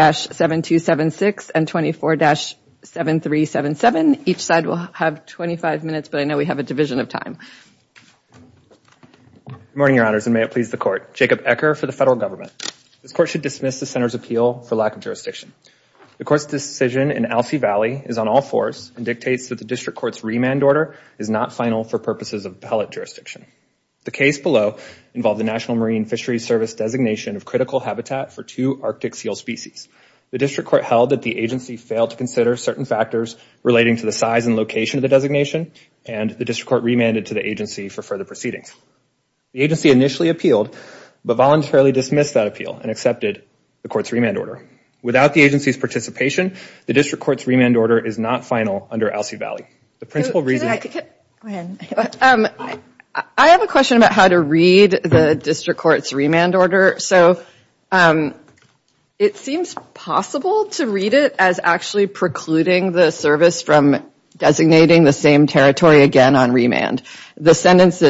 7276 and 24-7377. Each side will have 25 minutes but I know we have a division of time. Good morning your honors and may it please the court. Jacob Ecker for the federal government. This court should dismiss the senator's appeal for lack of jurisdiction. The court's decision in Alsea Valley is on all fours and dictates that the district court's remand order is not final for purposes of appellate jurisdiction. The case below involved the National Marine Fisheries Service designation of critical habitat for two arctic seal species. The district court held that the agency failed to consider certain factors relating to the size and location of the designation and the district court remanded to the agency for further proceedings. The agency initially appealed but voluntarily dismissed that appeal and accepted the court's remand order. Without the agency's participation the district court's remand order is not final under Alsea Valley. The principal question about how to read the district court's remand order. So it seems possible to read it as actually precluding the service from designating the same territory again on remand. The sentence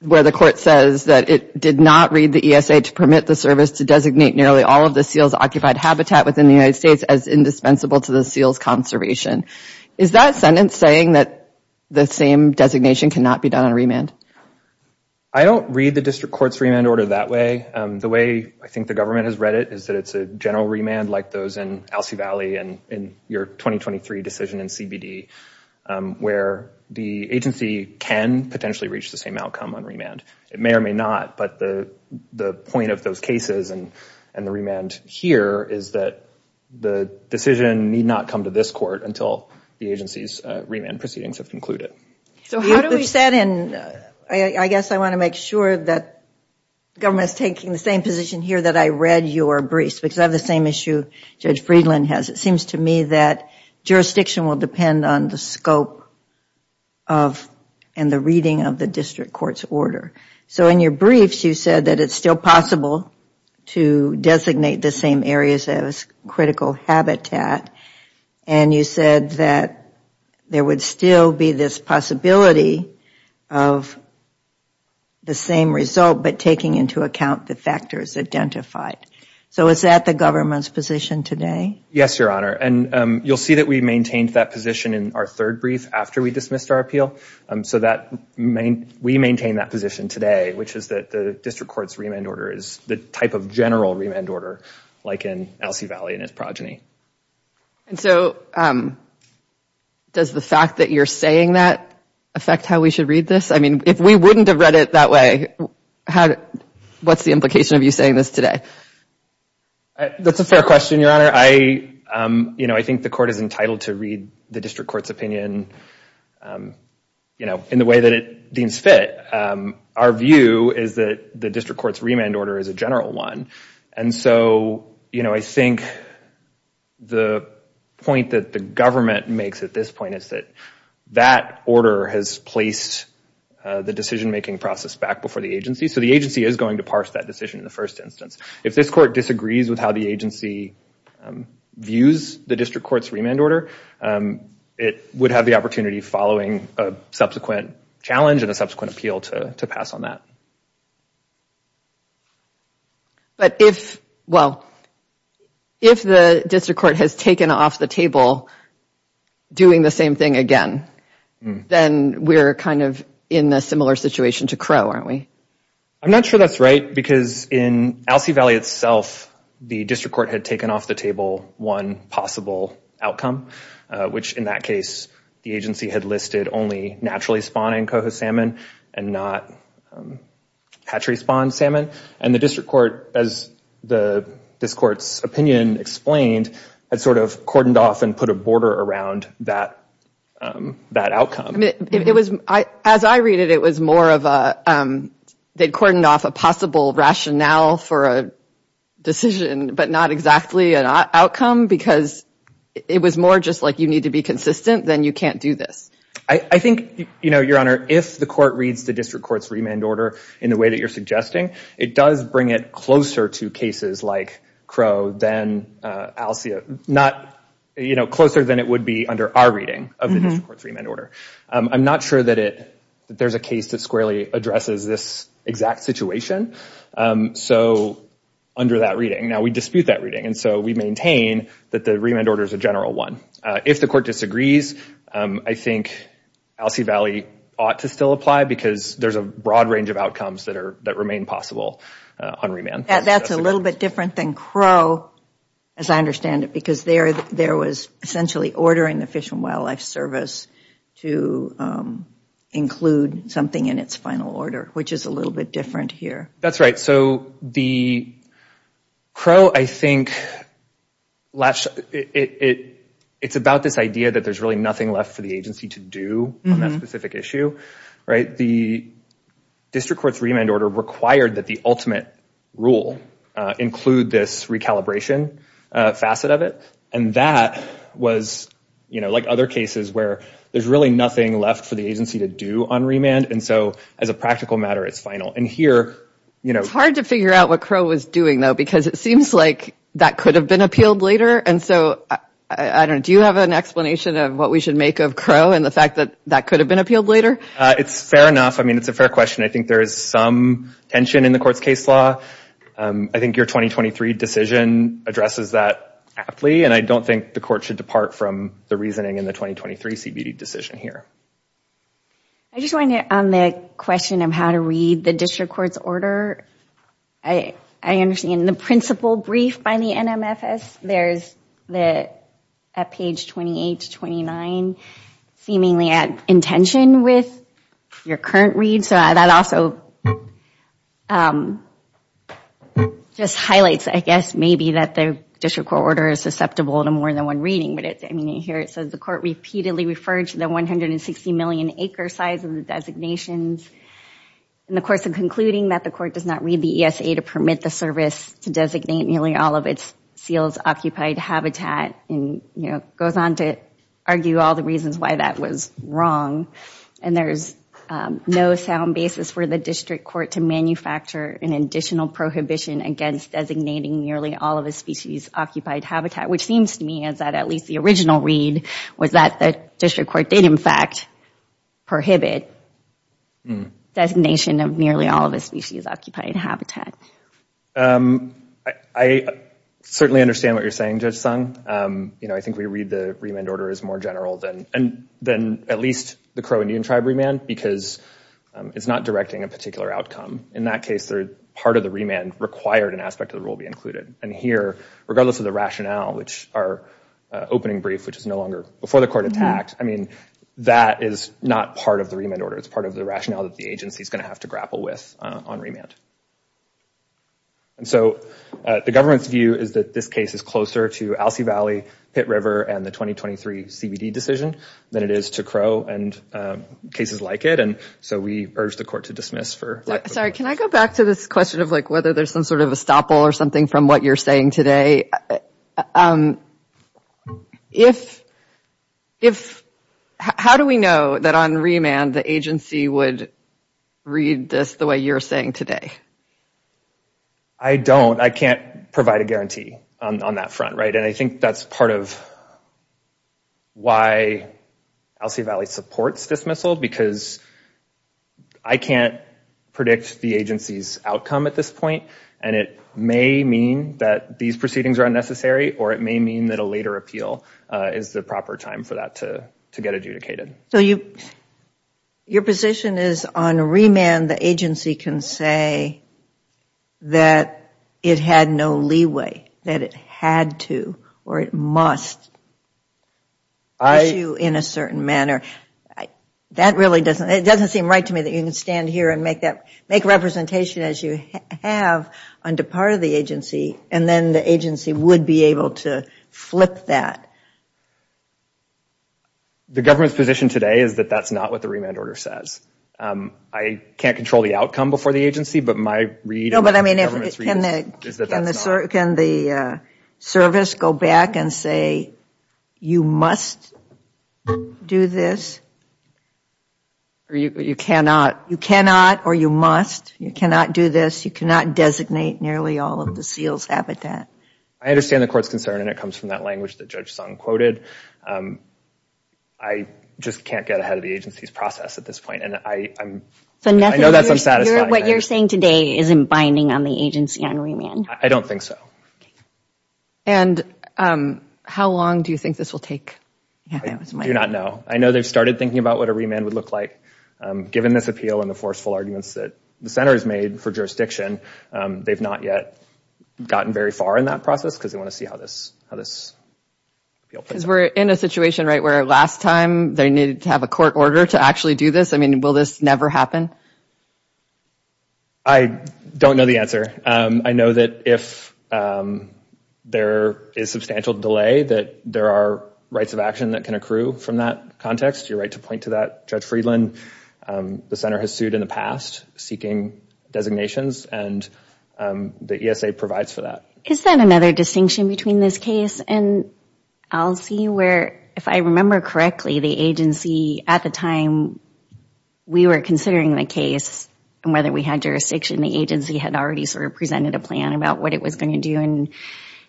where the court says that it did not read the ESA to permit the service to designate nearly all of the seals occupied habitat within the United States as indispensable to the seals conservation. Is that sentence saying that the same designation cannot be done on remand? I don't read the district court's remand order that way. The way I think the government has read it is that it's a general remand like those in Alsea Valley and in your 2023 decision in CBD where the agency can potentially reach the same outcome on remand. It may or may not but the point of those cases and the remand here is that the decision need not come to this court until the agency's remand proceedings have concluded. I guess I want to make sure that government is taking the same position here that I read your briefs because I have the same issue Judge Friedland has. It seems to me that jurisdiction will depend on the scope of and the reading of the district court's order. So in your briefs you said that it's still possible to designate the same areas as critical habitat and you said that there would still be this possibility of the same result but taking into account the factors identified. So is that the government's position today? Yes your honor and you'll see that we maintained that position in our third brief after we dismissed our appeal. So we maintain that position today which is that the district court's remand order is the type of general remand order like in Alsea Valley and its progeny. And so does the fact that you're saying that affect how we should read this? I mean if we wouldn't have read it that way what's the implication of you saying this today? That's a fair question your honor. I think the court is entitled to read the district court's opinion you know in the way that it deems fit. Our view is that the district court's remand order is a general one and so you know I think the point that the government makes at this point is that that order has placed the decision making process back before the agency. So the agency is going to parse that decision in the first instance. If this court disagrees with how the agency views the district court's remand order, it would have the opportunity following a subsequent challenge and a subsequent appeal to pass on that. But if well if the district court has taken off the table doing the same thing again then we're kind of in a similar situation to Crow aren't we? I'm not sure that's right because in Alcee Valley itself the district court had taken off the table one possible outcome which in that case the agency had listed only naturally spawning coho salmon and not hatchery spawned salmon and the district court as the this court's opinion explained had sort of cordoned off and put a border around that outcome. It was as I read it it was more of a they'd cordoned off a possible rationale for a decision but not exactly an outcome because it was more just like you need to be consistent then you can't do this. I think you know your honor if the court reads the district court's remand order in the way that you're suggesting it does bring it closer to cases like Crow than Alcee not you know closer than it would be under our reading of the district court's so under that reading now we dispute that reading and so we maintain that the remand order is a general one. If the court disagrees I think Alcee Valley ought to still apply because there's a broad range of outcomes that are that remain possible on remand. That's a little bit different than Crow as I understand it because there there was essentially ordering the Fish and Wildlife Service to include something in its final order which is a little bit different here. That's right so the Crow I think it it's about this idea that there's really nothing left for the agency to do on that specific issue right the district court's remand order required that the ultimate rule include this recalibration facet of it and that was you know like other cases where there's really nothing left for the agency to do on remand and so as a practical matter it's final and here you know it's hard to figure out what Crow was doing though because it seems like that could have been appealed later and so I don't do you have an explanation of what we should make of Crow and the fact that that could have been appealed later? It's fair enough I mean it's a fair question I think there is some tension in the court's case law. I think your 2023 decision addresses that aptly and I don't think the court should depart from the reasoning in the 2023 CBD decision here. I just wanted on the question of how to read the district court's order I understand the principal brief by the NMFS there's the at page 28 to 29 seemingly at intention with your current read so that also just highlights I guess maybe that the district court order is susceptible to more than one reading but it's I mean you hear it says the 160 million acre size of the designations and of course in concluding that the court does not read the ESA to permit the service to designate nearly all of its seals occupied habitat and you know goes on to argue all the reasons why that was wrong and there's no sound basis for the district court to manufacture an additional prohibition against designating nearly all of the species occupied habitat which seems to me is that at least the original read was that the district court did in fact prohibit designation of nearly all of the species occupied habitat. I certainly understand what you're saying Judge Sung you know I think we read the remand order as more general than and then at least the Crow Indian tribe remand because it's not directing a particular outcome in that case they're part of the remand required an aspect of the rule be and here regardless of the rationale which our opening brief which is no longer before the court attacked I mean that is not part of the remand order it's part of the rationale that the agency is going to have to grapple with on remand. And so the government's view is that this case is closer to Alcee Valley, Pitt River and the 2023 CBD decision than it is to Crow and cases like it and so we urge the court to dismiss for. Sorry can I go back to this question of like whether there's some sort of estoppel or something from what you're saying today. If if how do we know that on remand the agency would read this the way you're saying today? I don't I can't provide a guarantee on that front right and I think that's part of why Alcee Valley supports dismissal because I can't predict the agency's outcome at this point and it may mean that these proceedings are unnecessary or it may mean that a later appeal is the proper time for that to to get adjudicated. So you your position is on remand the agency can say that it had no leeway that it had to or it must issue in a certain manner. That really doesn't it doesn't seem right to me that you can stand here and make that make representation as you have under part of the agency and then the agency would be able to flip that. The government's position today is that that's not what the remand order says. I can't control the outcome before the agency but my read. No but I mean if it can is that the service go back and say you must do this or you cannot you cannot or you must you cannot do this you cannot designate nearly all of the seals habitat. I understand the court's concern and it comes from that language that Judge Sung quoted. I just can't get ahead of the agency's process at this point and I know that's unsatisfying. What you're saying today isn't binding on the agency on remand. I don't think so. And how long do you think this will take? I do not know. I know they've started thinking about what a remand would look like given this appeal and the forceful arguments that the center has made for jurisdiction. They've not yet gotten very far in that process because they want to see how this how this. Because we're in a situation right where last time they needed to have a court order to actually do this. I mean will this never happen? I don't know the answer. I know that if there is substantial delay that there are rights of action that can accrue from that context. You're right to point to that Judge Friedland. The center has sued in the past seeking designations and the ESA provides for that. Is that another distinction between this case and I'll see where if I remember correctly the agency at the time we were considering the case and whether we had jurisdiction the agency had already sort of presented a plan about what it was going to do and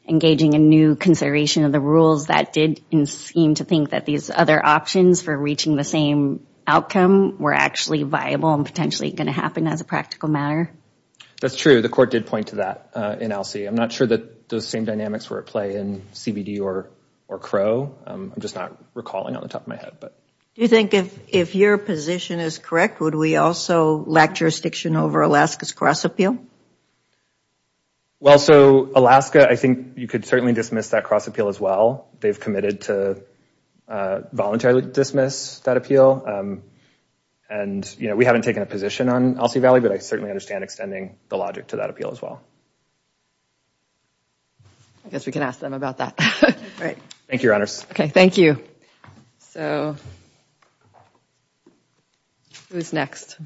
engaging a new consideration of the rules that did seem to think that these other options for reaching the same outcome were actually viable and potentially going to happen as a practical matter. That's true the court did point to that in LC. I'm not sure that those same dynamics were at play in CBD or or Crow. I'm just not recalling on the top of my head. Do you think if if your position is correct would we also lack jurisdiction over Alaska's cross-appeal? Well so Alaska I think you could certainly dismiss that cross-appeal as well. They've committed to voluntarily dismiss that appeal and you know we haven't taken a position on LC Valley but I certainly understand extending the logic to that appeal as well. I guess we can ask them about that. Right. Thank you your honors. Okay thank you. So who's next?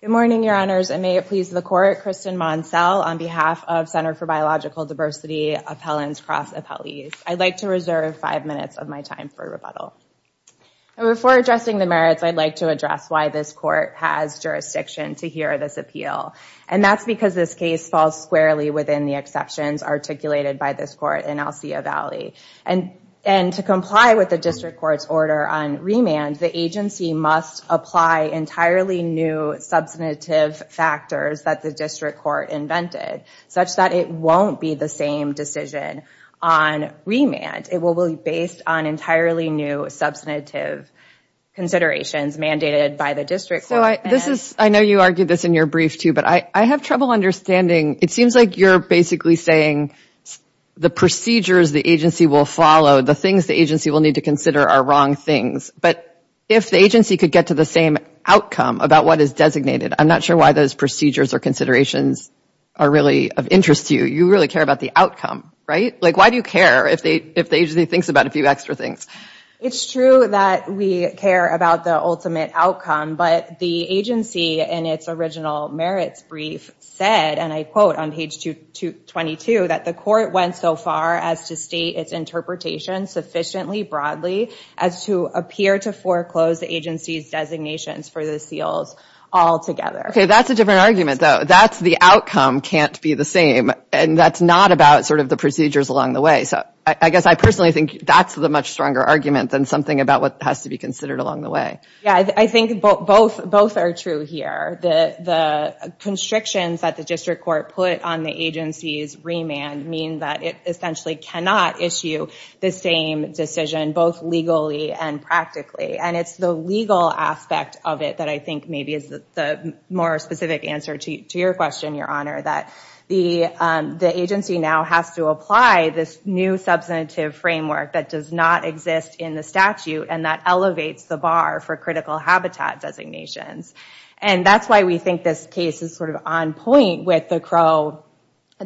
Good morning your honors and may it please the court. Kristin Monselle on behalf of Center for Biological Diversity Appellants Cross-Appellees. I'd like to reserve five minutes of my time for rebuttal. Before addressing the merits I'd like to address why this court has jurisdiction to hear this appeal and that's because this case falls squarely within the exceptions articulated by this court in Alcea Valley and and to comply with the district court's order on remand the agency must apply entirely new substantive factors that the district court invented such that it won't be the same decision on remand. It will be based on entirely new substantive considerations mandated by the district. So I this is I know you argued this in your brief too but I I have trouble understanding it seems like you're basically saying the procedures the agency will follow the things the agency will need to consider are wrong things but if the agency could get to the same outcome about what is designated I'm not sure why those procedures or considerations are really of interest to you. You really care about the outcome right? Like why do you care if they if the agency thinks about a few extra things? It's true that we care about the ultimate outcome but the agency in its original merits brief said and I quote on page 222 that the went so far as to state its interpretation sufficiently broadly as to appear to foreclose the agency's designations for the seals altogether. Okay that's a different argument though that's the outcome can't be the same and that's not about sort of the procedures along the way so I guess I personally think that's the much stronger argument than something about what has to be considered along the way. Yeah I think both both are true here the the constrictions that the that it essentially cannot issue the same decision both legally and practically and it's the legal aspect of it that I think maybe is the more specific answer to your question your honor that the the agency now has to apply this new substantive framework that does not exist in the statute and that elevates the bar for critical habitat designations and that's why we think this case is sort of on point with the Crow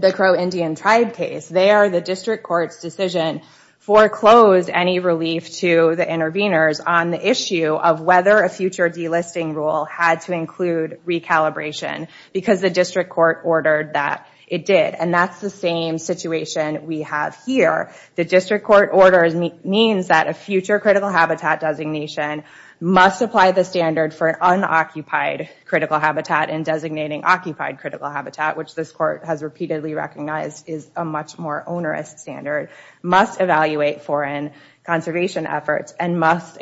the Crow Indian tribe case. There the district court's decision foreclosed any relief to the interveners on the issue of whether a future delisting rule had to include recalibration because the district court ordered that it did and that's the same situation we have here. The district court orders means that a future critical habitat designation must apply the standard for an unoccupied critical habitat and designating occupied critical habitat which this court has repeatedly recognized is a much more onerous standard must evaluate foreign conservation efforts and must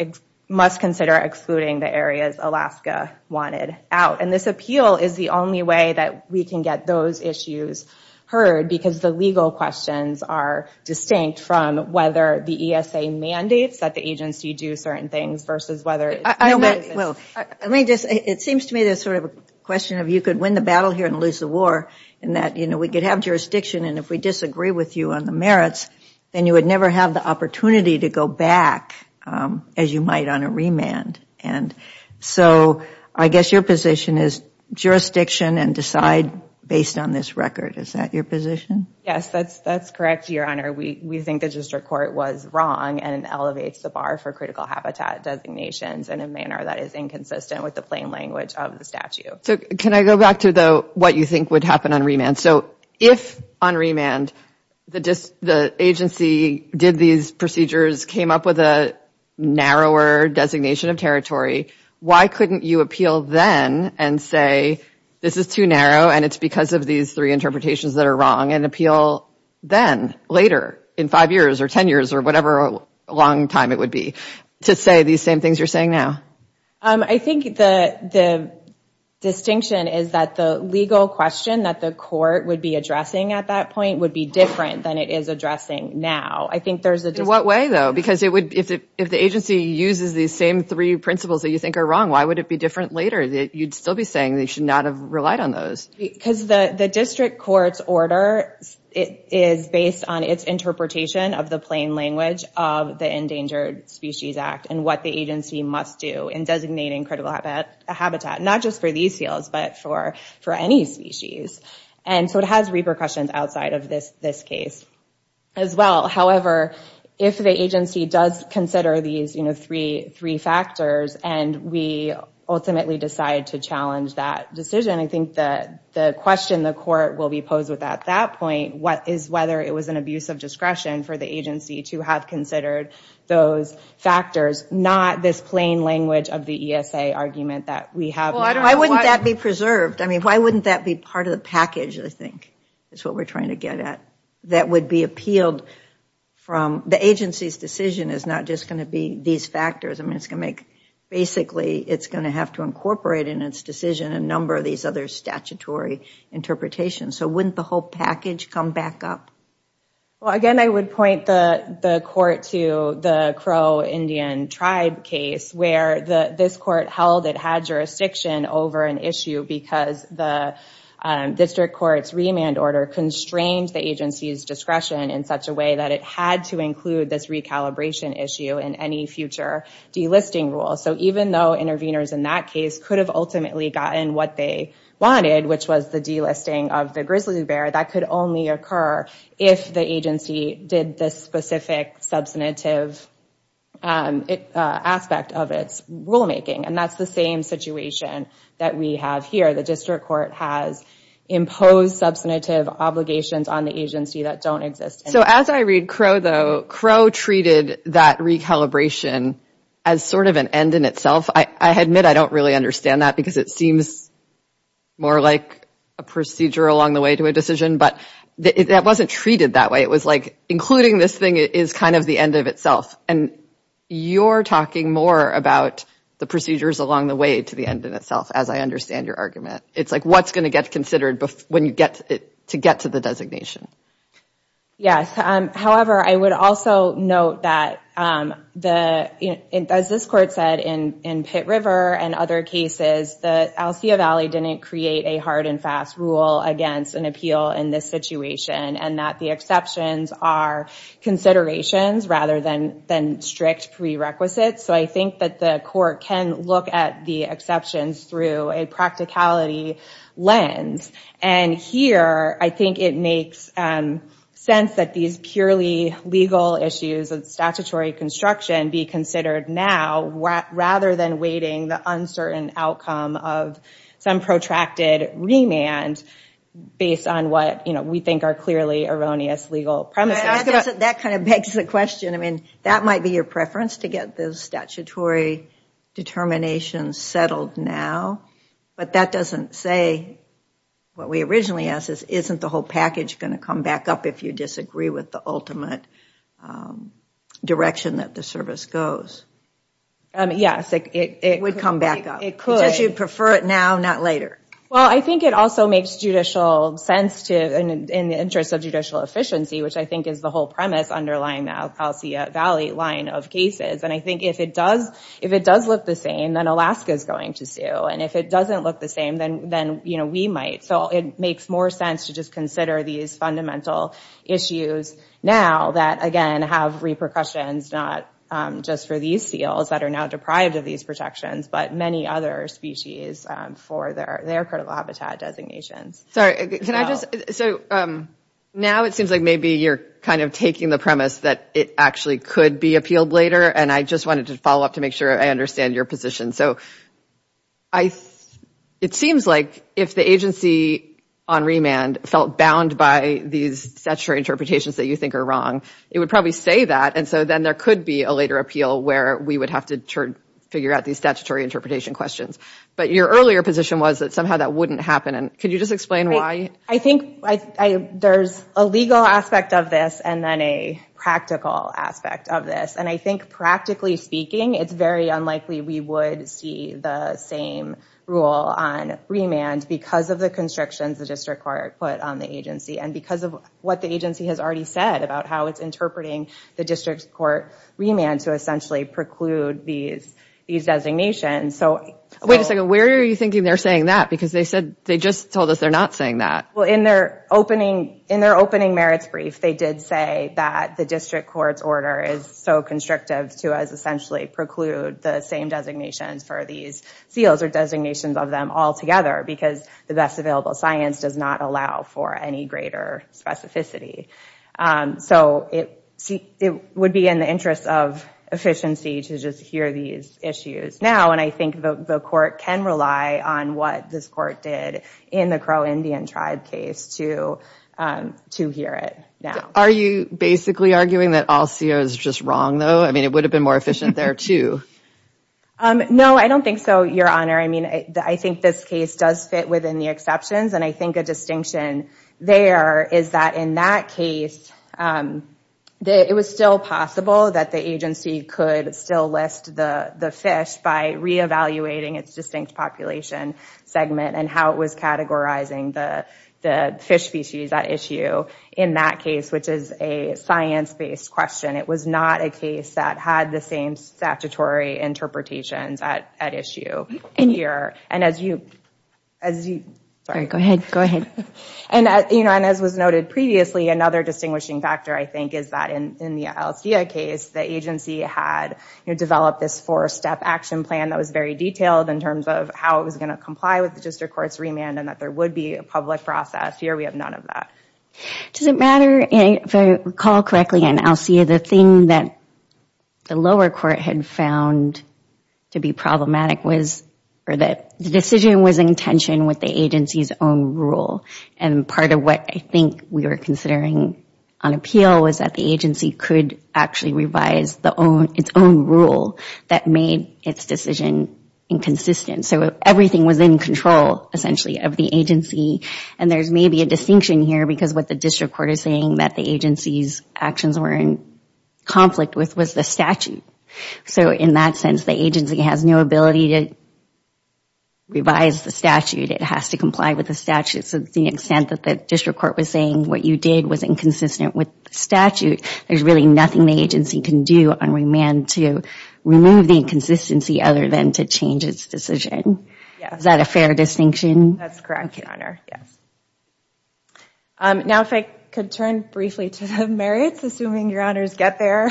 must consider excluding the areas Alaska wanted out and this appeal is the only way that we can get those issues heard because the legal questions are distinct from whether the ESA mandates that the agency do certain things versus whether it seems to me there's sort of a question of you could win the battle here and lose the war and that you know we could have jurisdiction and if we disagree with you on the merits then you would never have the opportunity to go back as you might on a remand and so I guess your position is jurisdiction and decide based on this record is that your position? Yes that's correct your honor we we think the district court was wrong and elevates the bar for critical habitat designations in a manner that is inconsistent with the plain language of the statute. So can I go back to the what you think would happen on remand so if on remand the just the agency did these procedures came up with a narrower designation of territory why couldn't you appeal then and say this is too narrow and it's because of these three interpretations that appeal then later in five years or ten years or whatever a long time it would be to say these same things you're saying now? I think the the distinction is that the legal question that the court would be addressing at that point would be different than it is addressing now I think there's a what way though because it would if it if the agency uses these same three principles that you think are wrong why would it be different later that you'd still be saying they should not relied on those? Because the the district court's order it is based on its interpretation of the plain language of the Endangered Species Act and what the agency must do in designating critical habitat not just for these seals but for for any species and so it has repercussions outside of this this case as well however if the agency does consider these you know three three factors and we ultimately decide to challenge that decision I think that the question the court will be posed with at that point what is whether it was an abuse of discretion for the agency to have considered those factors not this plain language of the ESA argument that we have. Why wouldn't that be preserved I mean why wouldn't that be part of the package I think is what we're trying to get at that would be appealed from the agency's decision is not just going to be these factors I basically it's going to have to incorporate in its decision a number of these other statutory interpretations so wouldn't the whole package come back up? Well again I would point the the court to the Crow Indian tribe case where the this court held it had jurisdiction over an issue because the district court's remand order constrained the agency's discretion in such a way that it had to include this recalibration issue in any future delisting rule so even though interveners in that case could have ultimately gotten what they wanted which was the delisting of the grizzly bear that could only occur if the agency did this specific substantive aspect of its rulemaking and that's the same situation that we have here the district court has imposed substantive obligations on the Crow treated that recalibration as sort of an end in itself I admit I don't really understand that because it seems more like a procedure along the way to a decision but that wasn't treated that way it was like including this thing is kind of the end of itself and you're talking more about the procedures along the way to the end in itself as I understand your argument it's like what's going to get considered when you get to get to the designation yes however I would also note that the as this court said in in Pitt River and other cases the Alcea Valley didn't create a hard and fast rule against an appeal in this situation and that the exceptions are considerations rather than than strict prerequisites so I think that the court can look at the exceptions through a practicality lens and here I think it makes sense that these purely legal issues of statutory construction be considered now rather than waiting the uncertain outcome of some protracted remand based on what you know we think are clearly erroneous legal premises that kind of begs the question I mean that might be your preference to get those statutory determinations settled now but that doesn't say what we originally asked is isn't the whole package going to come back up if you disagree with the ultimate direction that the service goes yes it would come back up it could you prefer it now not later well I think it also makes judicial sense to in the interest of judicial efficiency which I think is the whole premise underlying the Alcea Valley line of cases and I think if it does if it does look the same then Alaska is going to sue and if it doesn't look the same then then you know we might so it makes more sense to just consider these fundamental issues now that again have repercussions not just for these seals that are now deprived of these protections but many other species for their their critical habitat designations sorry can I just so now it seems like maybe you're kind of taking the premise that it actually could be appealed later and I just wanted to follow up to make sure I understand your position so I it seems like if the agency on remand felt bound by these statutory interpretations that you think are wrong it would probably say that and so then there could be a later appeal where we would have to turn figure out these statutory interpretation questions but your earlier position was that somehow that wouldn't happen and could you just explain why I think I there's a legal aspect of this and then a practical aspect of this and I think practically speaking it's very unlikely we would see the same rule on remand because of the constrictions the district court put on the agency and because of what the agency has already said about how it's interpreting the district court remand to essentially preclude these these designations so wait a second where are you thinking they're saying that because they said they just told us they're not saying that well in their opening in their opening merits brief they did say that the district court's order is so constrictive to as essentially preclude the same designations for these seals or designations of them all together because the best available science does not allow for any greater specificity so it it would be in the interest of efficiency to just hear these issues now and I think the court can rely on what this court did in the crow indian tribe case to um to hear it now are you basically arguing that all co is just wrong though I mean it would have been more efficient there too um no I don't think so your honor I mean I think this case does fit within the exceptions and I think a distinction there is that in that case um that it was still possible that the agency could still list the the fish by re-evaluating its distinct population segment and how it was categorizing the the fish species at issue in that case which is a science-based question it was not a case that had the same statutory interpretations at at issue in here and as you as you sorry go ahead go ahead and as you know and as was noted previously another distinguishing factor I think is that in in the LCA case the agency had you know developed this four-step action plan that was very detailed in terms of how it was going to comply with the district court's remand and that there would be a public process here we have none of that does it matter if I recall correctly and I'll see the thing that the lower court had found to be problematic was or that the decision was intention with the agency's own rule and part of what I think we were considering on appeal was that the agency could actually revise the own its own rule that made its decision inconsistent so everything was in control essentially of the agency and there's maybe a distinction here because what the district court is saying that the agency's actions were in conflict with was the statute so in that sense the agency has no ability to revise the statute it has to comply with the statute so the extent that the district court was saying what you did was inconsistent with the statute there's really nothing the agency can do on remand to remove the inconsistency other than to change its decision yeah is that a fair distinction that's correct your honor yes um now if I could turn briefly to the merits assuming your honors get there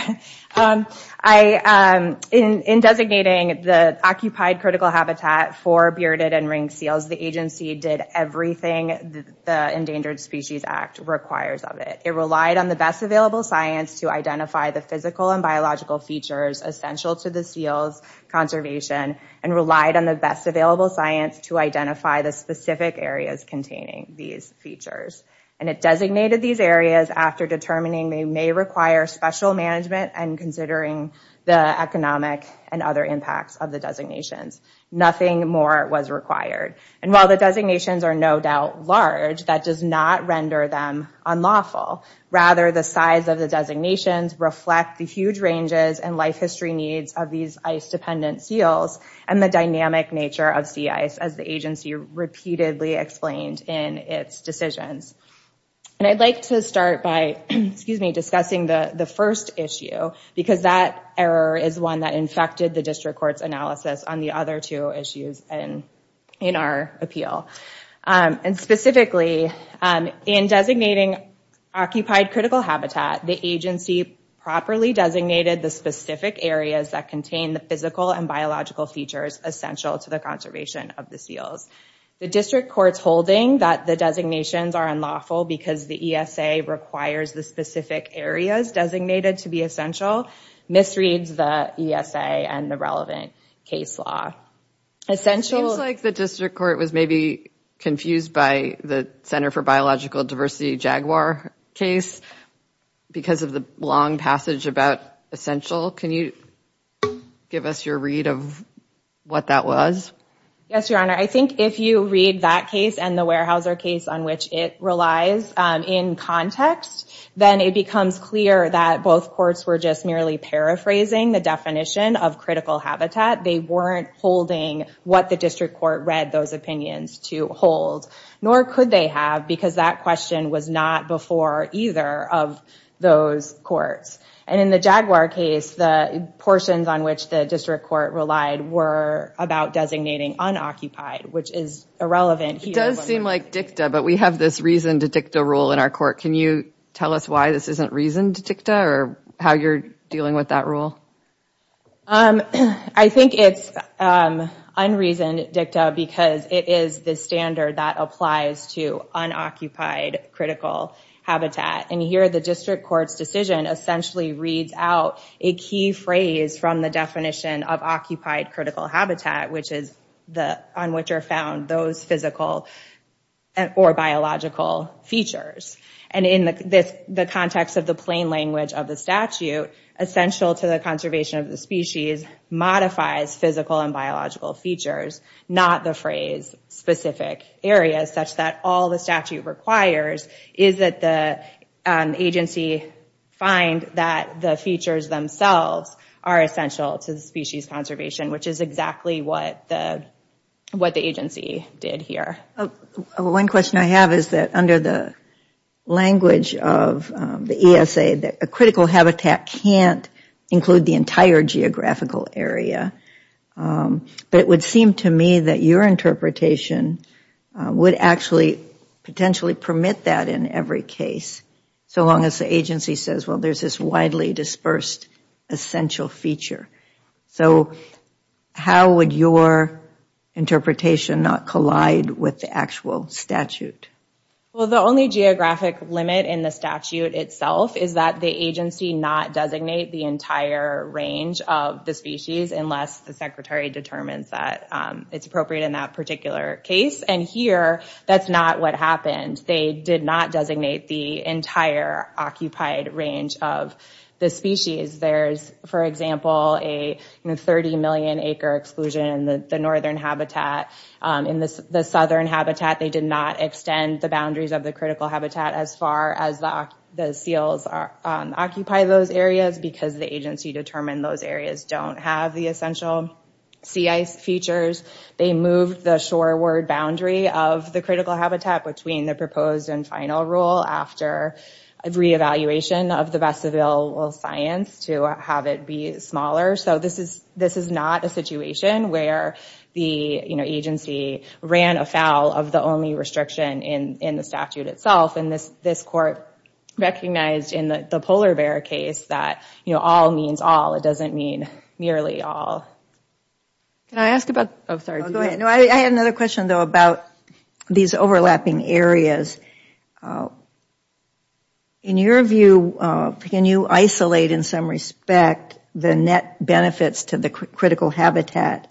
um I um in in designating the occupied critical habitat for bearded and ring seals the agency did everything the endangered species act requires of it it relied on the best available science to identify the physical and biological features essential to the seals conservation and relied on the best available science to identify the specific areas containing these features and it designated these areas after determining they require special management and considering the economic and other impacts of the designations nothing more was required and while the designations are no doubt large that does not render them unlawful rather the size of the designations reflect the huge ranges and life history needs of these ice dependent seals and the dynamic nature of sea ice as the agency repeatedly explained in its decisions and I'd like to start by excuse me discussing the the first issue because that error is one that infected the district court's analysis on the other two issues and in our appeal um and specifically um in designating occupied critical habitat the agency properly designated the specific areas that contain the physical and biological features essential to the conservation of the seals the district court's holding that the designations are unlawful because the ESA requires the specific areas designated to be essential misreads the ESA and the relevant case law essential like the district court was maybe confused by the center for biological diversity jaguar case because of the long passage about essential can you give us your read of what that was yes your honor I think if you read that case and the Weyerhaeuser case on which it relies um in context then it becomes clear that both courts were just merely paraphrasing the definition of critical habitat they weren't holding what the district court read those opinions to hold nor could they have because that question was not before either of those courts and in the jaguar case the portions on which the district court relied were about designating unoccupied which is irrelevant it does seem like dicta but we have this reason to dictate a rule in our court can you tell us why this isn't reason to dictate or how you're dealing with that rule um I think it's um unreason dicta because it is the standard that applies to unoccupied critical habitat and here the district court's decision essentially reads out a key phrase from the definition of occupied critical habitat which is the on which are found those physical and or biological features and in this the context of the plain language of the statute essential to the conservation of the species modifies physical and biological features not the phrase specific areas such that all the statute requires is that the agency find that the features themselves are essential to the species conservation which is exactly what the what the agency did here one question I have is that under the language of the ESA that a critical habitat can't include the entire geographical area but it would seem to me that your interpretation would actually potentially permit that in every case so long as the agency says well there's this widely dispersed essential feature so how would your interpretation not collide with the actual statute well the only geographic limit in the statute itself is that the agency not designate the entire range of the species unless the secretary determines that it's appropriate in that particular case and here that's not what happened they did not designate the entire occupied range of the species there's for example a 30 million acre exclusion in the northern habitat in this the southern habitat they did not extend the boundaries of the critical habitat as far as the seals are occupy those areas because the agency determined those areas don't have the essential sea ice features they moved the shoreward boundary of the critical habitat between the proposed and final rule after a re-evaluation of the best available science to have it be smaller so this is this is not a situation where the you know agency ran afoul of the only restriction in in the statute itself and this this court recognized in the polar bear case that you know all means all it doesn't mean merely all can I ask about oh sorry go ahead no I had another question though about these overlapping areas in your view can you isolate in some respect the net benefits to the critical habitat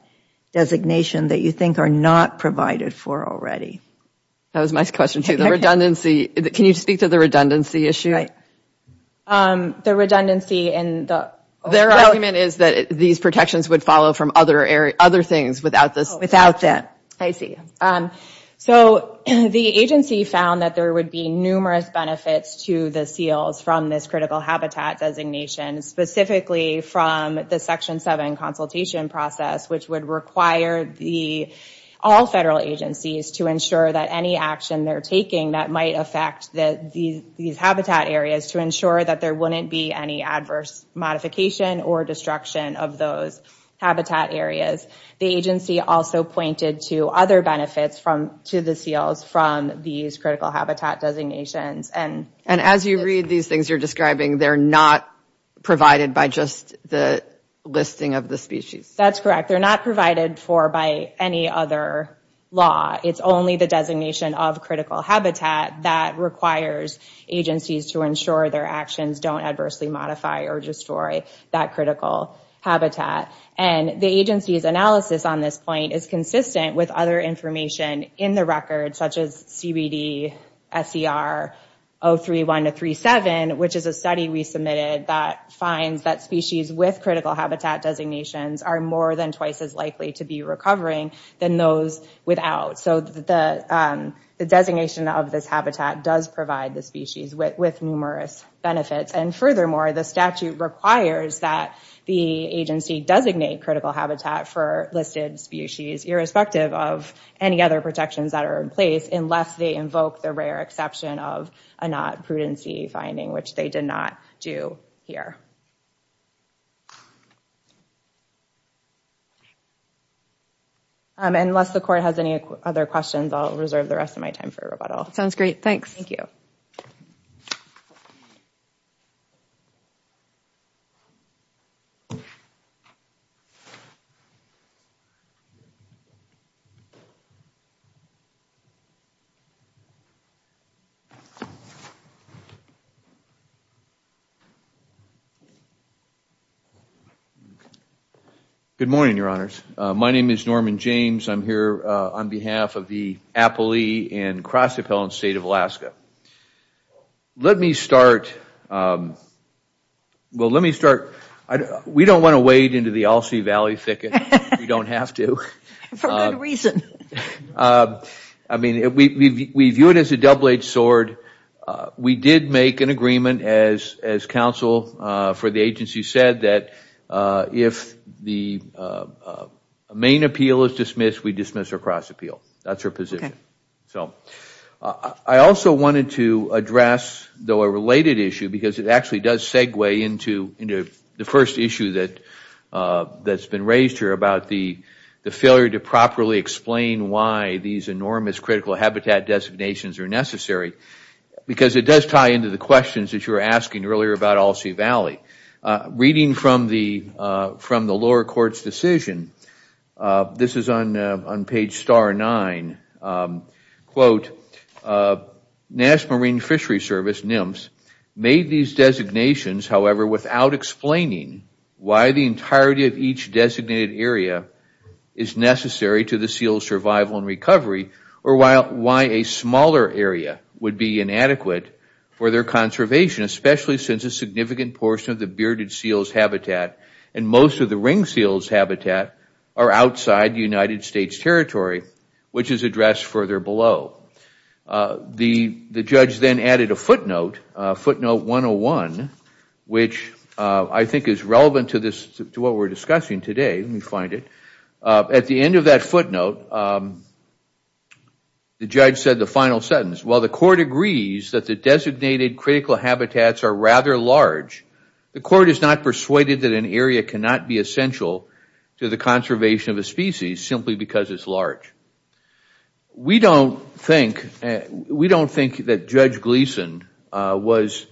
designation that you think are not provided for already that was my question to the redundancy can you speak to the redundancy issue right um the redundancy in the their argument is that these protections would follow from other area other things without this without that I see um so the agency found that there would be numerous benefits to the seals from this critical habitat designation specifically from the section 7 consultation process which would require the all federal agencies to ensure that any action they're taking that might affect the these habitat areas to ensure that there wouldn't be any adverse modification or destruction of those habitat areas the agency also pointed to other benefits from to the seals from these critical habitat designations and and as you read these things you're describing they're not provided by just the listing of the species that's correct they're not provided for by any other law it's only the designation of critical habitat that requires agencies to ensure their actions don't adversely modify or destroy that critical habitat and the analysis on this point is consistent with other information in the record such as cbd ser 031 to 37 which is a study we submitted that finds that species with critical habitat designations are more than twice as likely to be recovering than those without so the um the designation of this habitat does provide the species with numerous benefits and furthermore the statute requires that the agency designate critical habitat for listed species irrespective of any other protections that are in place unless they invoke the rare exception of a not prudency finding which they did not do here unless the court has any other questions i'll reserve the rest of my time for rebuttal sounds great thanks thank you good morning your honors my name is norman james i'm here uh on behalf of the appellee in cross appellant state of alaska let me start um well let me start i don't we don't want to wade into the all c valley thicket you don't have to for good reason uh i mean we we view it as a double-edged sword uh we did make an agreement as as counsel uh for the agency said that uh if the uh main appeal is dismissed we dismiss our cross appeal that's our position so i also wanted to address though a related issue because it actually does segue into into the first issue that uh that's been raised here about the the failure to properly explain why these enormous critical habitat designations are necessary because it does tie into the questions that were asking earlier about all c valley uh reading from the uh from the lower court's decision uh this is on on page star nine um quote uh nash marine fishery service nymphs made these designations however without explaining why the entirety of each designated area is necessary to the seal survival and recovery or while why a smaller area would be inadequate for their conservation especially since a significant portion of the bearded seal's habitat and most of the ring seals habitat are outside the united states territory which is addressed further below uh the the judge then added a footnote uh footnote 101 which uh i think is relevant to this to what we're discussing today let me find it uh at the end of that footnote um the judge said the final sentence while the court agrees that the designated critical habitats are rather large the court is not persuaded that an area cannot be essential to the conservation of a species simply because it's large we don't think we don't think that judge gleason uh was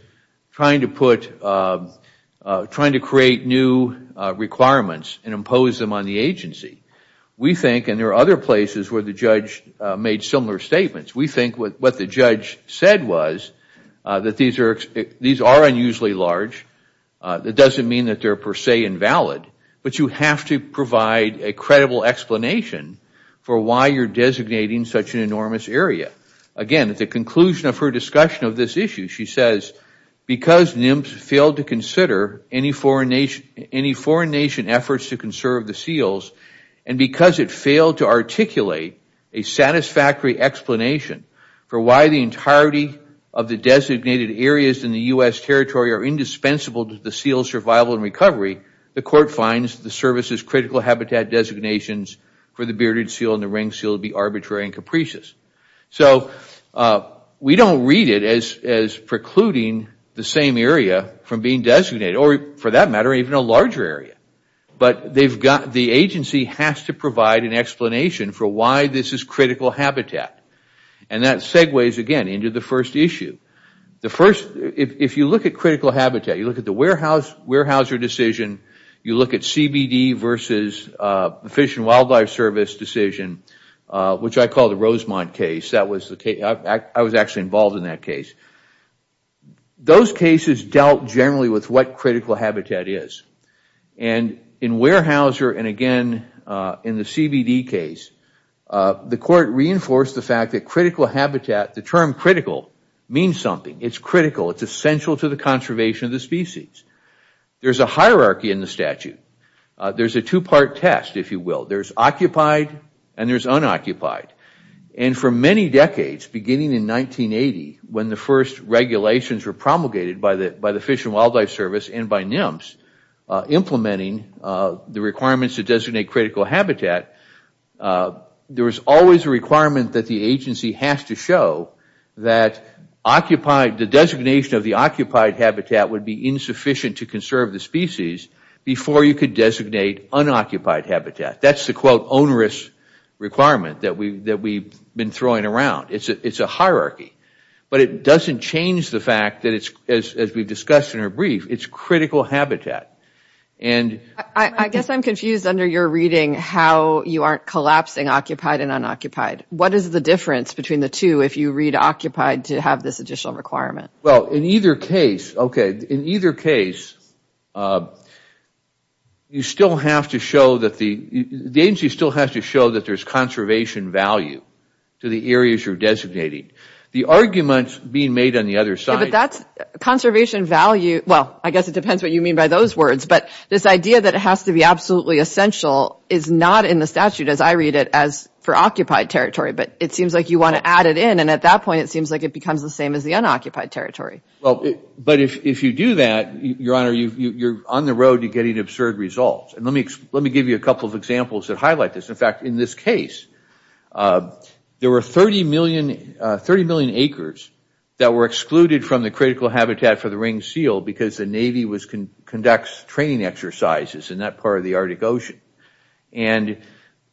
trying to put uh trying to create new uh requirements and impose them on the agency we think and there are other places where the judge made similar statements we think what the judge said was uh that these are these are unusually large uh that doesn't mean that they're per se invalid but you have to provide a credible explanation for why you're designating such an enormous area again at the conclusion of her discussion of this issue she says because nymphs failed to consider any foreign nation any foreign nation efforts to conserve the seals and because it failed to articulate a satisfactory explanation for why the entirety of the designated areas in the u.s territory are indispensable to the seal survival and recovery the court finds the service's critical habitat designations for the bearded seal and the ring seal would be arbitrary and capricious so uh we don't read it as as precluding the same area from being designated or for that matter even a larger area but they've got the agency has to provide an explanation for why this is critical habitat and that segues again into the first issue the first if you look at critical habitat you look at the warehouse warehouser decision you look at cbd versus uh fish and wildlife service decision uh which i call the rosemont case that was the case i was actually involved in that case those cases dealt generally with what critical habitat is and in warehouser and again uh in the cbd case uh the court reinforced the fact that critical habitat the term critical means something it's critical it's essential to the conservation of the species there's a hierarchy in the statute there's a two-part test if you will there's occupied and there's unoccupied and for many decades beginning in 1980 when the first regulations were promulgated by the by the fish and wildlife service and by nymphs implementing uh the requirements to designate critical habitat there was always a requirement that the agency has to show that occupied the designation of the occupied habitat would be insufficient to conserve the species before you could designate unoccupied habitat that's the quote onerous requirement that we that we've been throwing around it's a it's a hierarchy but it doesn't change the fact that it's as as we've discussed in our brief it's critical habitat and i i guess i'm confused under your reading how you aren't collapsing occupied and unoccupied what is the difference between the two if you read occupied to have this additional requirement well in either case okay in either case uh you still have to show that the the agency still has to show that there's conservation value to the areas you're designating the arguments being made on the other side but that's conservation value well i guess it depends what you mean by those words but this idea that it has to be absolutely essential is not in the statute as i read it as for occupied territory but it seems like you want to add it in and at that point it seems like it becomes the same as the unoccupied territory well but if if you do that your honor you you're on the road to getting absurd results and let me let me give you a couple of examples that highlight this in fact in this case uh there were 30 million uh 30 million acres that were excluded from the critical habitat for the ring seal because the navy was conducts training exercises in that part of the arctic ocean and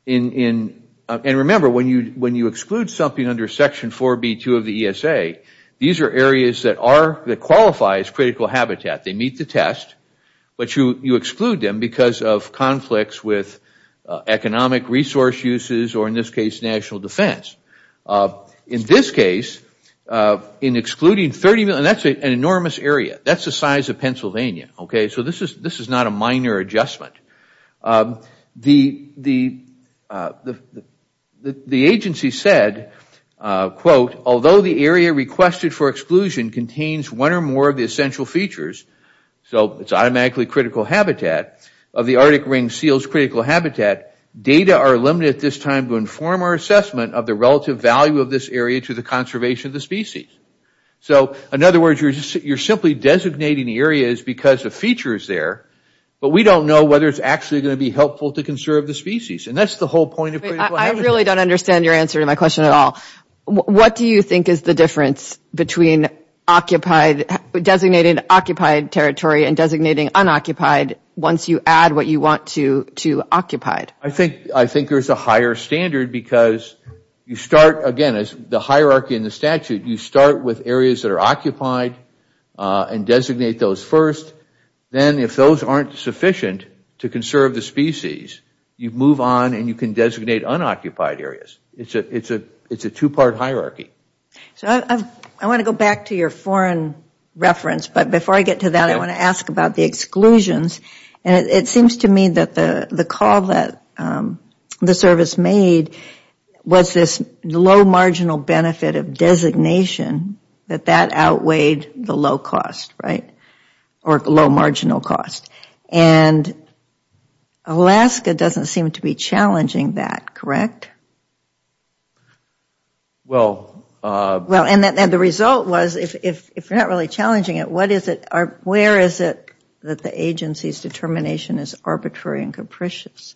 in in and remember when you when you exclude something under section 4b2 of the esa these are areas that are that qualify as critical habitat they meet the test but you you exclude them because of conflicts with economic resource uses or in this case national defense uh in this case uh in excluding 30 million that's an enormous area that's the size of pennsylvania okay so this this is not a minor adjustment the the uh the the agency said uh quote although the area requested for exclusion contains one or more of the essential features so it's automatically critical habitat of the arctic ring seals critical habitat data are limited at this time to inform our assessment of the relative value of this area to the conservation of the species so in other words you're simply designating areas because the feature is there but we don't know whether it's actually going to be helpful to conserve the species and that's the whole point of i really don't understand your answer to my question at all what do you think is the difference between occupied designated occupied territory and designating unoccupied once you add what you want to to occupied i think i think there's a higher standard because you start again as the hierarchy in the statute you start with areas that are occupied uh and designate those first then if those aren't sufficient to conserve the species you move on and you can designate unoccupied areas it's a it's a it's a two-part hierarchy so i i want to go back to your foreign reference but before i get to that i want to ask about the exclusions and it seems to me that the call that the service made was this low marginal benefit of designation that that outweighed the low cost right or low marginal cost and alaska doesn't seem to be challenging that correct well uh well and then the result was if if you're not really challenging it what is it where is it that the agency's determination is arbitrary and capricious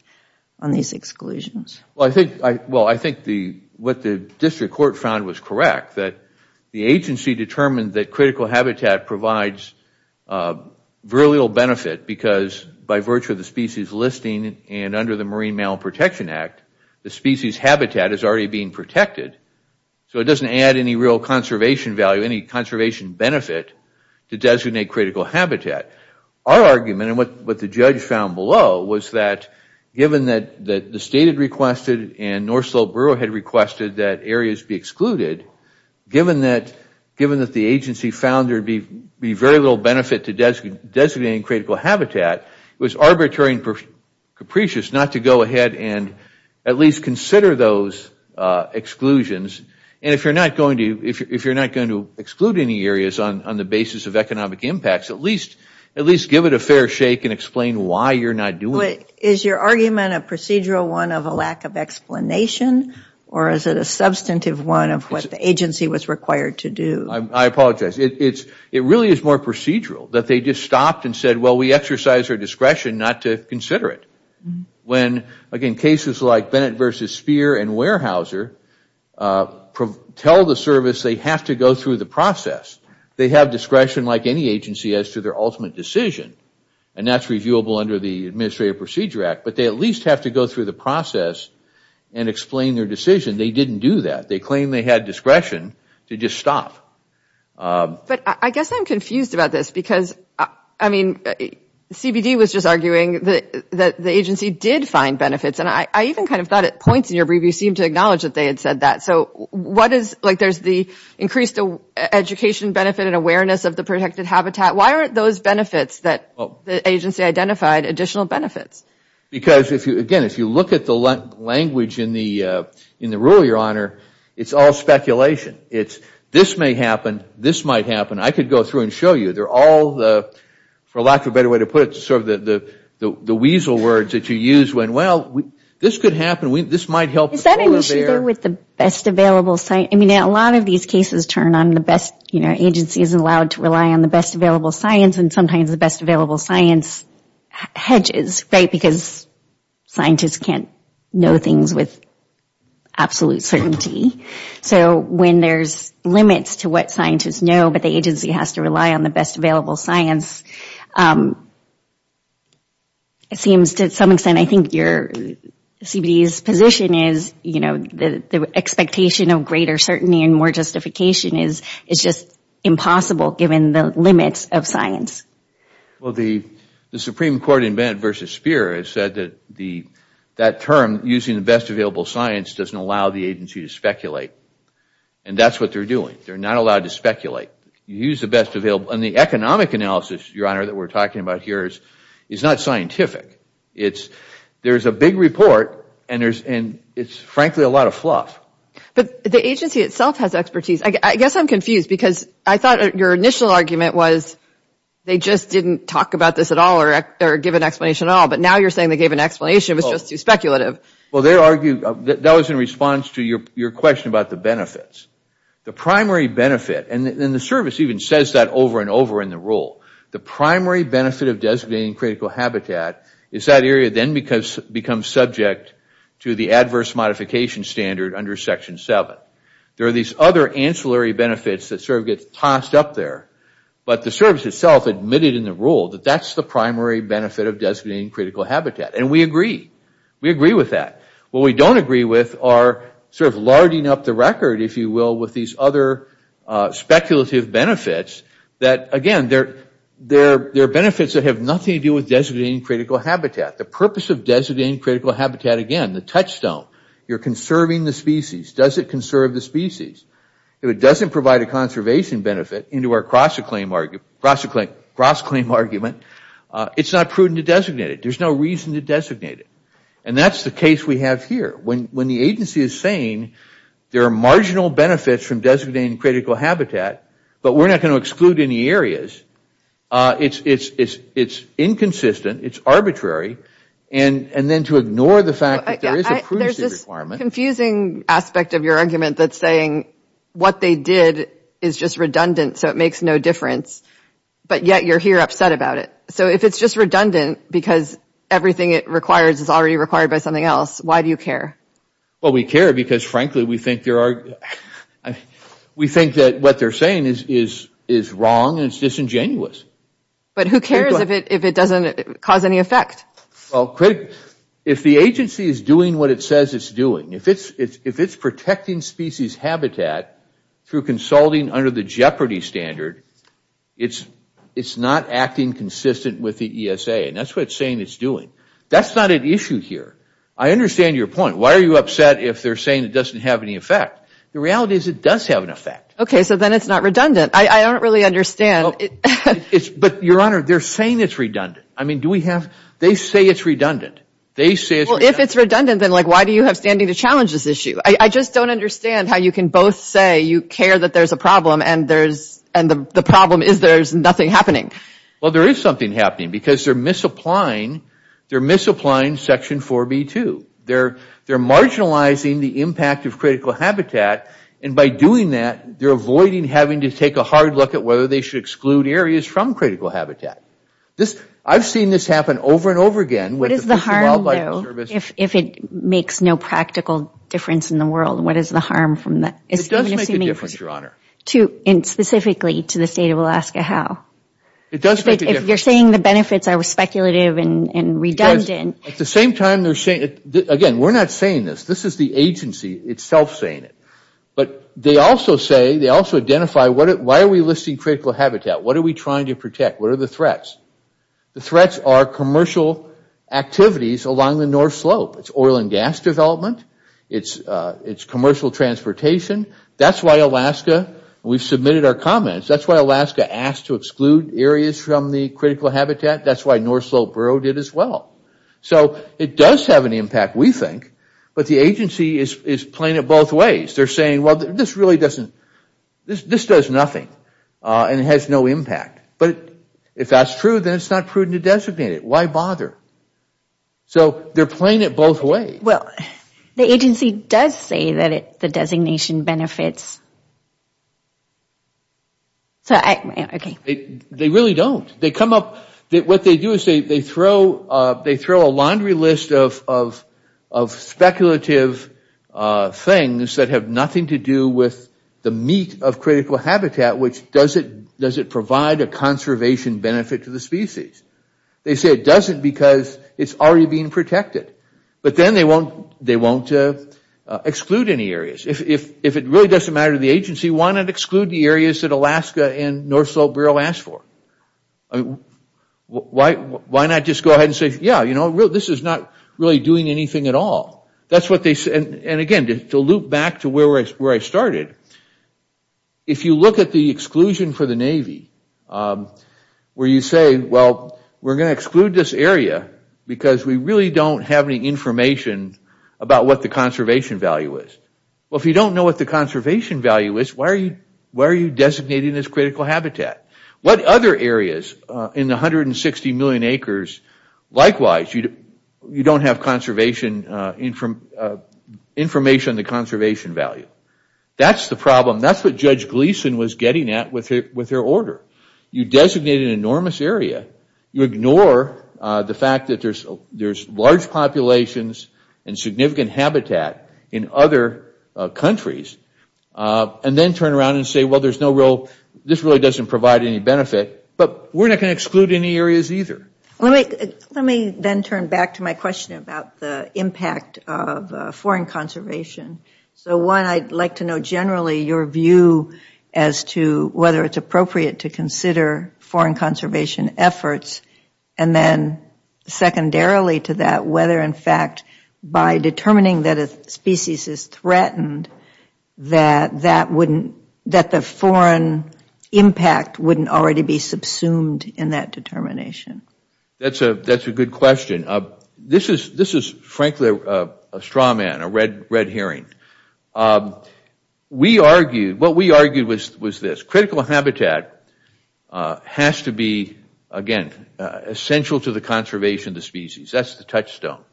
on these exclusions well i think i well i think the what the district court found was correct that the agency determined that critical habitat provides uh very little benefit because by virtue of the species listing and under the marine malprotection act the species habitat is already being protected so it doesn't add any real conservation value any conservation benefit to designate critical habitat our argument and what what the judge found below was that given that that the state had requested and north slope borough had requested that areas be excluded given that given that the agency found there'd be be very little benefit to designating critical habitat it was arbitrary and capricious not to go ahead and at least consider those uh exclusions and if you're not going to if you're not going to exclude any areas on on the basis of economic impacts at least at least give it a fair shake and explain why you're not doing it is your argument a procedural one of a lack of explanation or is it a substantive one of what the agency was required to do i apologize it's it really is more procedural that they just stopped and said well we exercise our discretion not to consider it when again cases like bennett versus spear and weyerhaeuser tell the service they have to go through the process they have discretion like any agency as to their ultimate decision and that's reviewable under the administrative procedure act but they at least have to go through the process and explain their decision they didn't do that they claim they had discretion to just stop but i guess i'm confused about this because i mean cbd was just arguing that that the agency did find benefits and i i even kind of thought at points in your brief you seem to acknowledge that they had said that so what is like there's the increased education benefit and awareness of the protected habitat why aren't those benefits that the agency identified additional benefits because if you again if you look at the language in the uh in the rule your honor it's all speculation it's this may happen this might happen i could go through and show you they're all the for lack of a better way to put it to serve the the the weasel words that you use when well we this could happen we this might help is that an issue there with the best available site i mean a lot of these cases turn on the best you know agency isn't allowed to rely on the best available science and sometimes the best available science hedges right because scientists can't know things with absolute certainty so when there's limits to what scientists know but the agency has to rely on the best available science it seems to some extent i think your cbd's position is you know the the expectation of greater certainty and more justification is is just impossible given the limits of science well the the supreme court in bed versus spear has said that the that term using the best available science doesn't allow the agency to speculate and that's what they're doing they're not allowed to speculate you use the best available and the economic analysis your honor that we're talking about here is is not scientific it's there's a big report and there's and it's frankly a lot of fluff but the agency itself has expertise i guess i'm confused because i thought your initial argument was they just didn't talk about this at all or or give an explanation at all but now you're saying they gave an explanation it was just too speculative well they argue that was in response to your your question about the benefits the primary benefit and then the service even says that over and over in the rule the primary benefit of designating critical habitat is that area then because becomes subject to the adverse modification standard under section 7 there are these other ancillary benefits that sort of gets tossed up there but the service itself admitted in the rule that that's the primary benefit of designating critical habitat and we agree we agree with that what we don't agree with are sort of larding up the record if you will with these other speculative benefits that again they're they're they're benefits that have nothing to do with designating critical habitat the purpose of designating critical habitat again the touchstone you're conserving the species does it conserve the species if it doesn't provide a conservation benefit into our cross-acclaim argument cross-acclaim cross-claim argument uh it's not prudent to designate it there's no reason to designate it and that's the case we have here when when the agency is saying there are marginal benefits from designating critical habitat but we're not going to exclude any areas uh it's it's it's it's inconsistent it's arbitrary and and then to ignore the fact that there is a requirement confusing aspect of your argument that's saying what they did is just redundant so it makes no difference but yet you're here upset about it so if it's just redundant because everything it requires is already required by something else why do you care well we care because frankly we think there are we think that what they're saying is is is wrong and it's disingenuous but who cares if it if it doesn't cause any effect well quick if the agency is doing what it says it's doing if it's it's if it's protecting species habitat through consulting under the jeopardy standard it's it's not acting consistent with the esa and that's what it's saying it's doing that's not an issue here i understand your point why are you upset if they're saying it doesn't have any effect the reality is it does have an effect okay so then it's not redundant i i don't really understand it it's but your honor they're saying it's redundant i mean do we have they say it's redundant they say well it's redundant then like why do you have standing to challenge this issue i i just don't understand how you can both say you care that there's a problem and there's and the problem is there's nothing happening well there is something happening because they're misapplying they're misapplying section 4b2 they're they're marginalizing the impact of critical habitat and by doing that they're avoiding having to take a hard look at whether they should exclude areas from critical habitat this i've seen this happen over and over again what is the harm if it makes no practical difference in the world what is the harm from that it doesn't make a difference your honor to and specifically to the state of alaska how it does if you're saying the benefits are speculative and and redundant at the same time they're saying it again we're not saying this this is the agency itself saying it but they also say they also identify what why are we listing critical habitat what are we trying to protect what are the threats the threats are commercial activities along the north slope it's oil and gas development it's uh it's commercial transportation that's why alaska we've submitted our comments that's why alaska asked to exclude areas from the critical habitat that's why north slope borough did as well so it does have an impact we think but the agency is is playing it both ways they're saying well this really doesn't this this does nothing uh and it has no impact but if that's true then it's not prudent to designate it why bother so they're playing it both ways well the agency does say that it the designation benefits so i okay they really don't they come up that what they do is they they throw uh they throw a laundry list of of of speculative uh things that have nothing to do with the meat of critical habitat which does it does it provide a conservation benefit to the species they say it doesn't because it's already being protected but then they won't they won't uh exclude any areas if if it really doesn't matter to the agency why not exclude the areas that and north slope borough asked for i mean why why not just go ahead and say yeah you know this is not really doing anything at all that's what they said and again to loop back to where where i started if you look at the exclusion for the navy um where you say well we're going to exclude this area because we really don't have any information about what the conservation value is well if you don't know what the conservation value is why are you why are you designating this critical habitat what other areas uh in the 160 million acres likewise you you don't have conservation uh in from uh information on the conservation value that's the problem that's what judge gleason was getting at with her with her order you designate an enormous area you ignore uh the fact that there's there's large populations and significant habitat in other countries uh and then turn around and say well there's no real this really doesn't provide any benefit but we're not going to exclude any areas either let me let me then turn back to my question about the impact of foreign conservation so one i'd like to know generally your view as to whether it's appropriate to consider foreign conservation efforts and then secondarily to that whether in fact by determining that a species is threatened that that wouldn't that the foreign impact wouldn't already be subsumed in that determination that's a that's a good question uh this is this is frankly a straw man a red red hearing um we argued what we argued was was this critical habitat uh has to be again essential to the conservation of the species that's the touchstone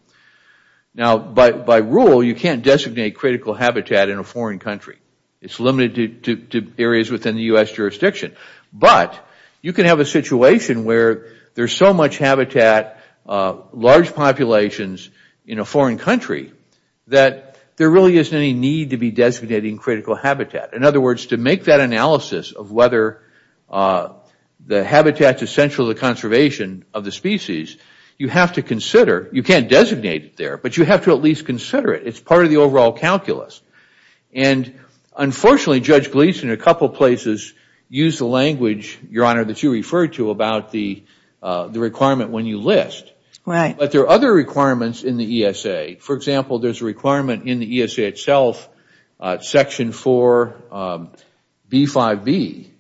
now by by rule you can't designate critical habitat in a foreign country it's limited to to areas within the u.s jurisdiction but you can have a situation where there's so much habitat uh large populations in a foreign country that there really isn't any need to be designating critical habitat in other words to make that analysis of whether uh the habitat is central to the conservation of the species you have to consider you can't designate it there but you have to at least consider it it's part of the overall calculus and unfortunately judge gleason a couple places use the language your honor that you refer to about the uh the requirement when you list right but there are other requirements in the esa for example there's a requirement in the esa itself uh section 4 b 5 b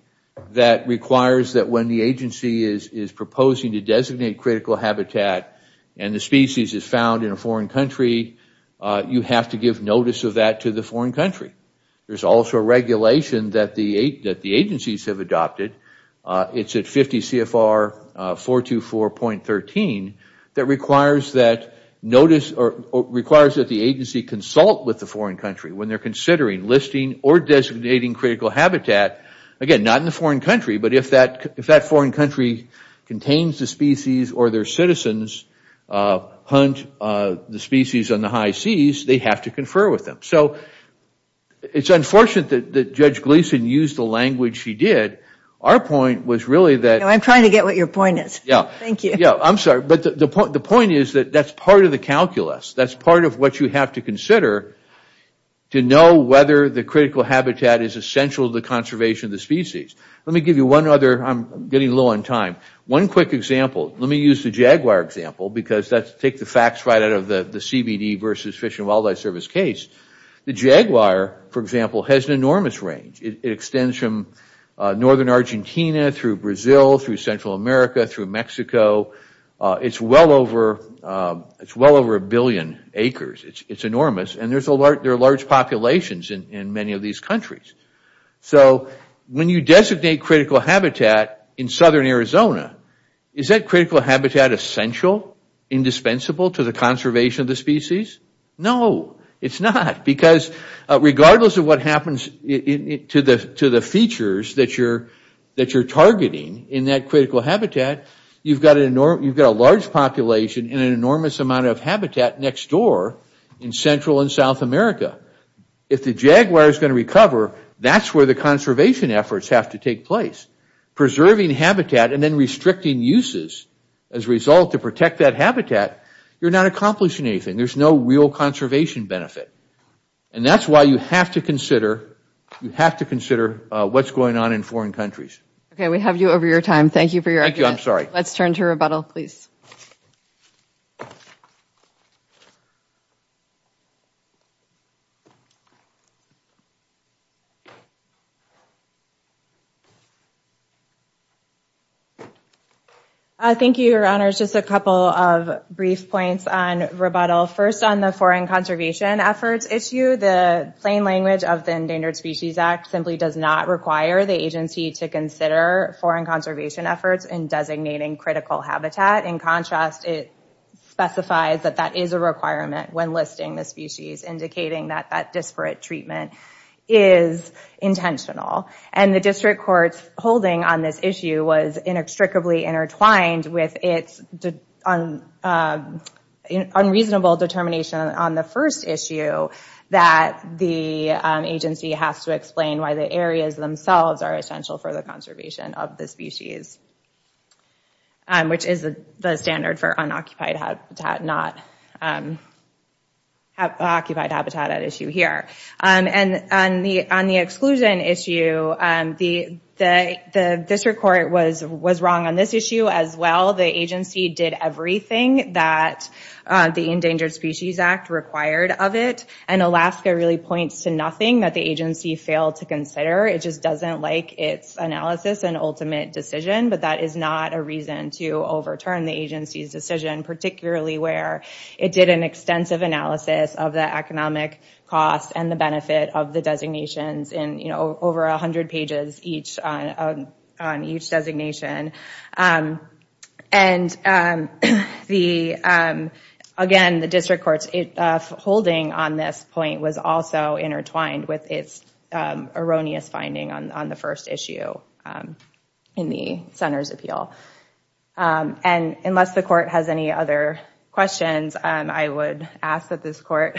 that requires that when the agency is is proposing to designate critical habitat and the species is found in a foreign country uh you have to give notice of that to the foreign country there's also a regulation that the eight that the agencies have adopted uh it's at 50 cfr uh 424.13 that requires that notice or requires that the agency consult with the foreign country when they're considering listing or designating critical habitat again not in the foreign country but if that if that foreign country contains the species or their citizens uh hunt uh the species on the high seas they have to confer with them so it's unfortunate that judge gleason used the language she did our point was really that i'm trying to get what your point is yeah thank you yeah i'm sorry but the point the is that that's part of the calculus that's part of what you have to consider to know whether the critical habitat is essential to the conservation of the species let me give you one other i'm getting low on time one quick example let me use the jaguar example because that's take the facts right out of the the cbd versus fish and wildlife service case the jaguar for example has an enormous range it extends from northern argentina through brazil through central america through mexico uh it's well over uh it's well over a billion acres it's enormous and there's a large there are large populations in in many of these countries so when you designate critical habitat in southern arizona is that critical habitat essential indispensable to the conservation of the species no it's not because regardless of what happens in it to the to the features that that you're targeting in that critical habitat you've got an enormous you've got a large population and an enormous amount of habitat next door in central and south america if the jaguar is going to recover that's where the conservation efforts have to take place preserving habitat and then restricting uses as a result to protect that habitat you're not accomplishing anything there's no real conservation benefit and that's why you have to consider you have to consider what's going on in foreign countries okay we have you over your time thank you for your thank you i'm sorry let's turn to rebuttal please uh thank you your honors just a couple of brief points on rebuttal first on the foreign conservation efforts issue the plain language of the endangered species act simply does not require the agency to consider foreign conservation efforts in designating critical habitat in contrast it specifies that that is a requirement when listing the species indicating that that disparate treatment is intentional and the district court's holding on this issue was inextricably intertwined with its unreasonable determination on the first issue that the agency has to explain why the areas themselves are essential for the conservation of the species um which is the standard for unoccupied habitat not um occupied habitat at issue here um and on the on the exclusion issue um the the the district court was was wrong on this issue as well the agency did everything that the endangered species act required of it and alaska really points to nothing that the agency failed to consider it just doesn't like its analysis and ultimate decision but that is not a reason to overturn the agency's decision particularly where it did an extensive analysis of the economic cost and the benefit of the designations in you know over a hundred pages each on each designation um and um the um again the district court's holding on this point was also intertwined with its erroneous finding on the first issue in the center's appeal and unless the court has any other questions i would ask that this court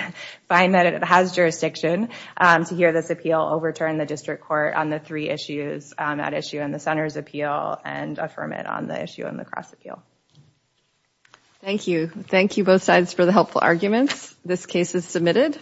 find that it has jurisdiction to hear this appeal overturn the district court on the three issues at issue in the center's appeal and affirm it on the issue in the cross appeal thank you thank you both sides for the helpful arguments this case is submitted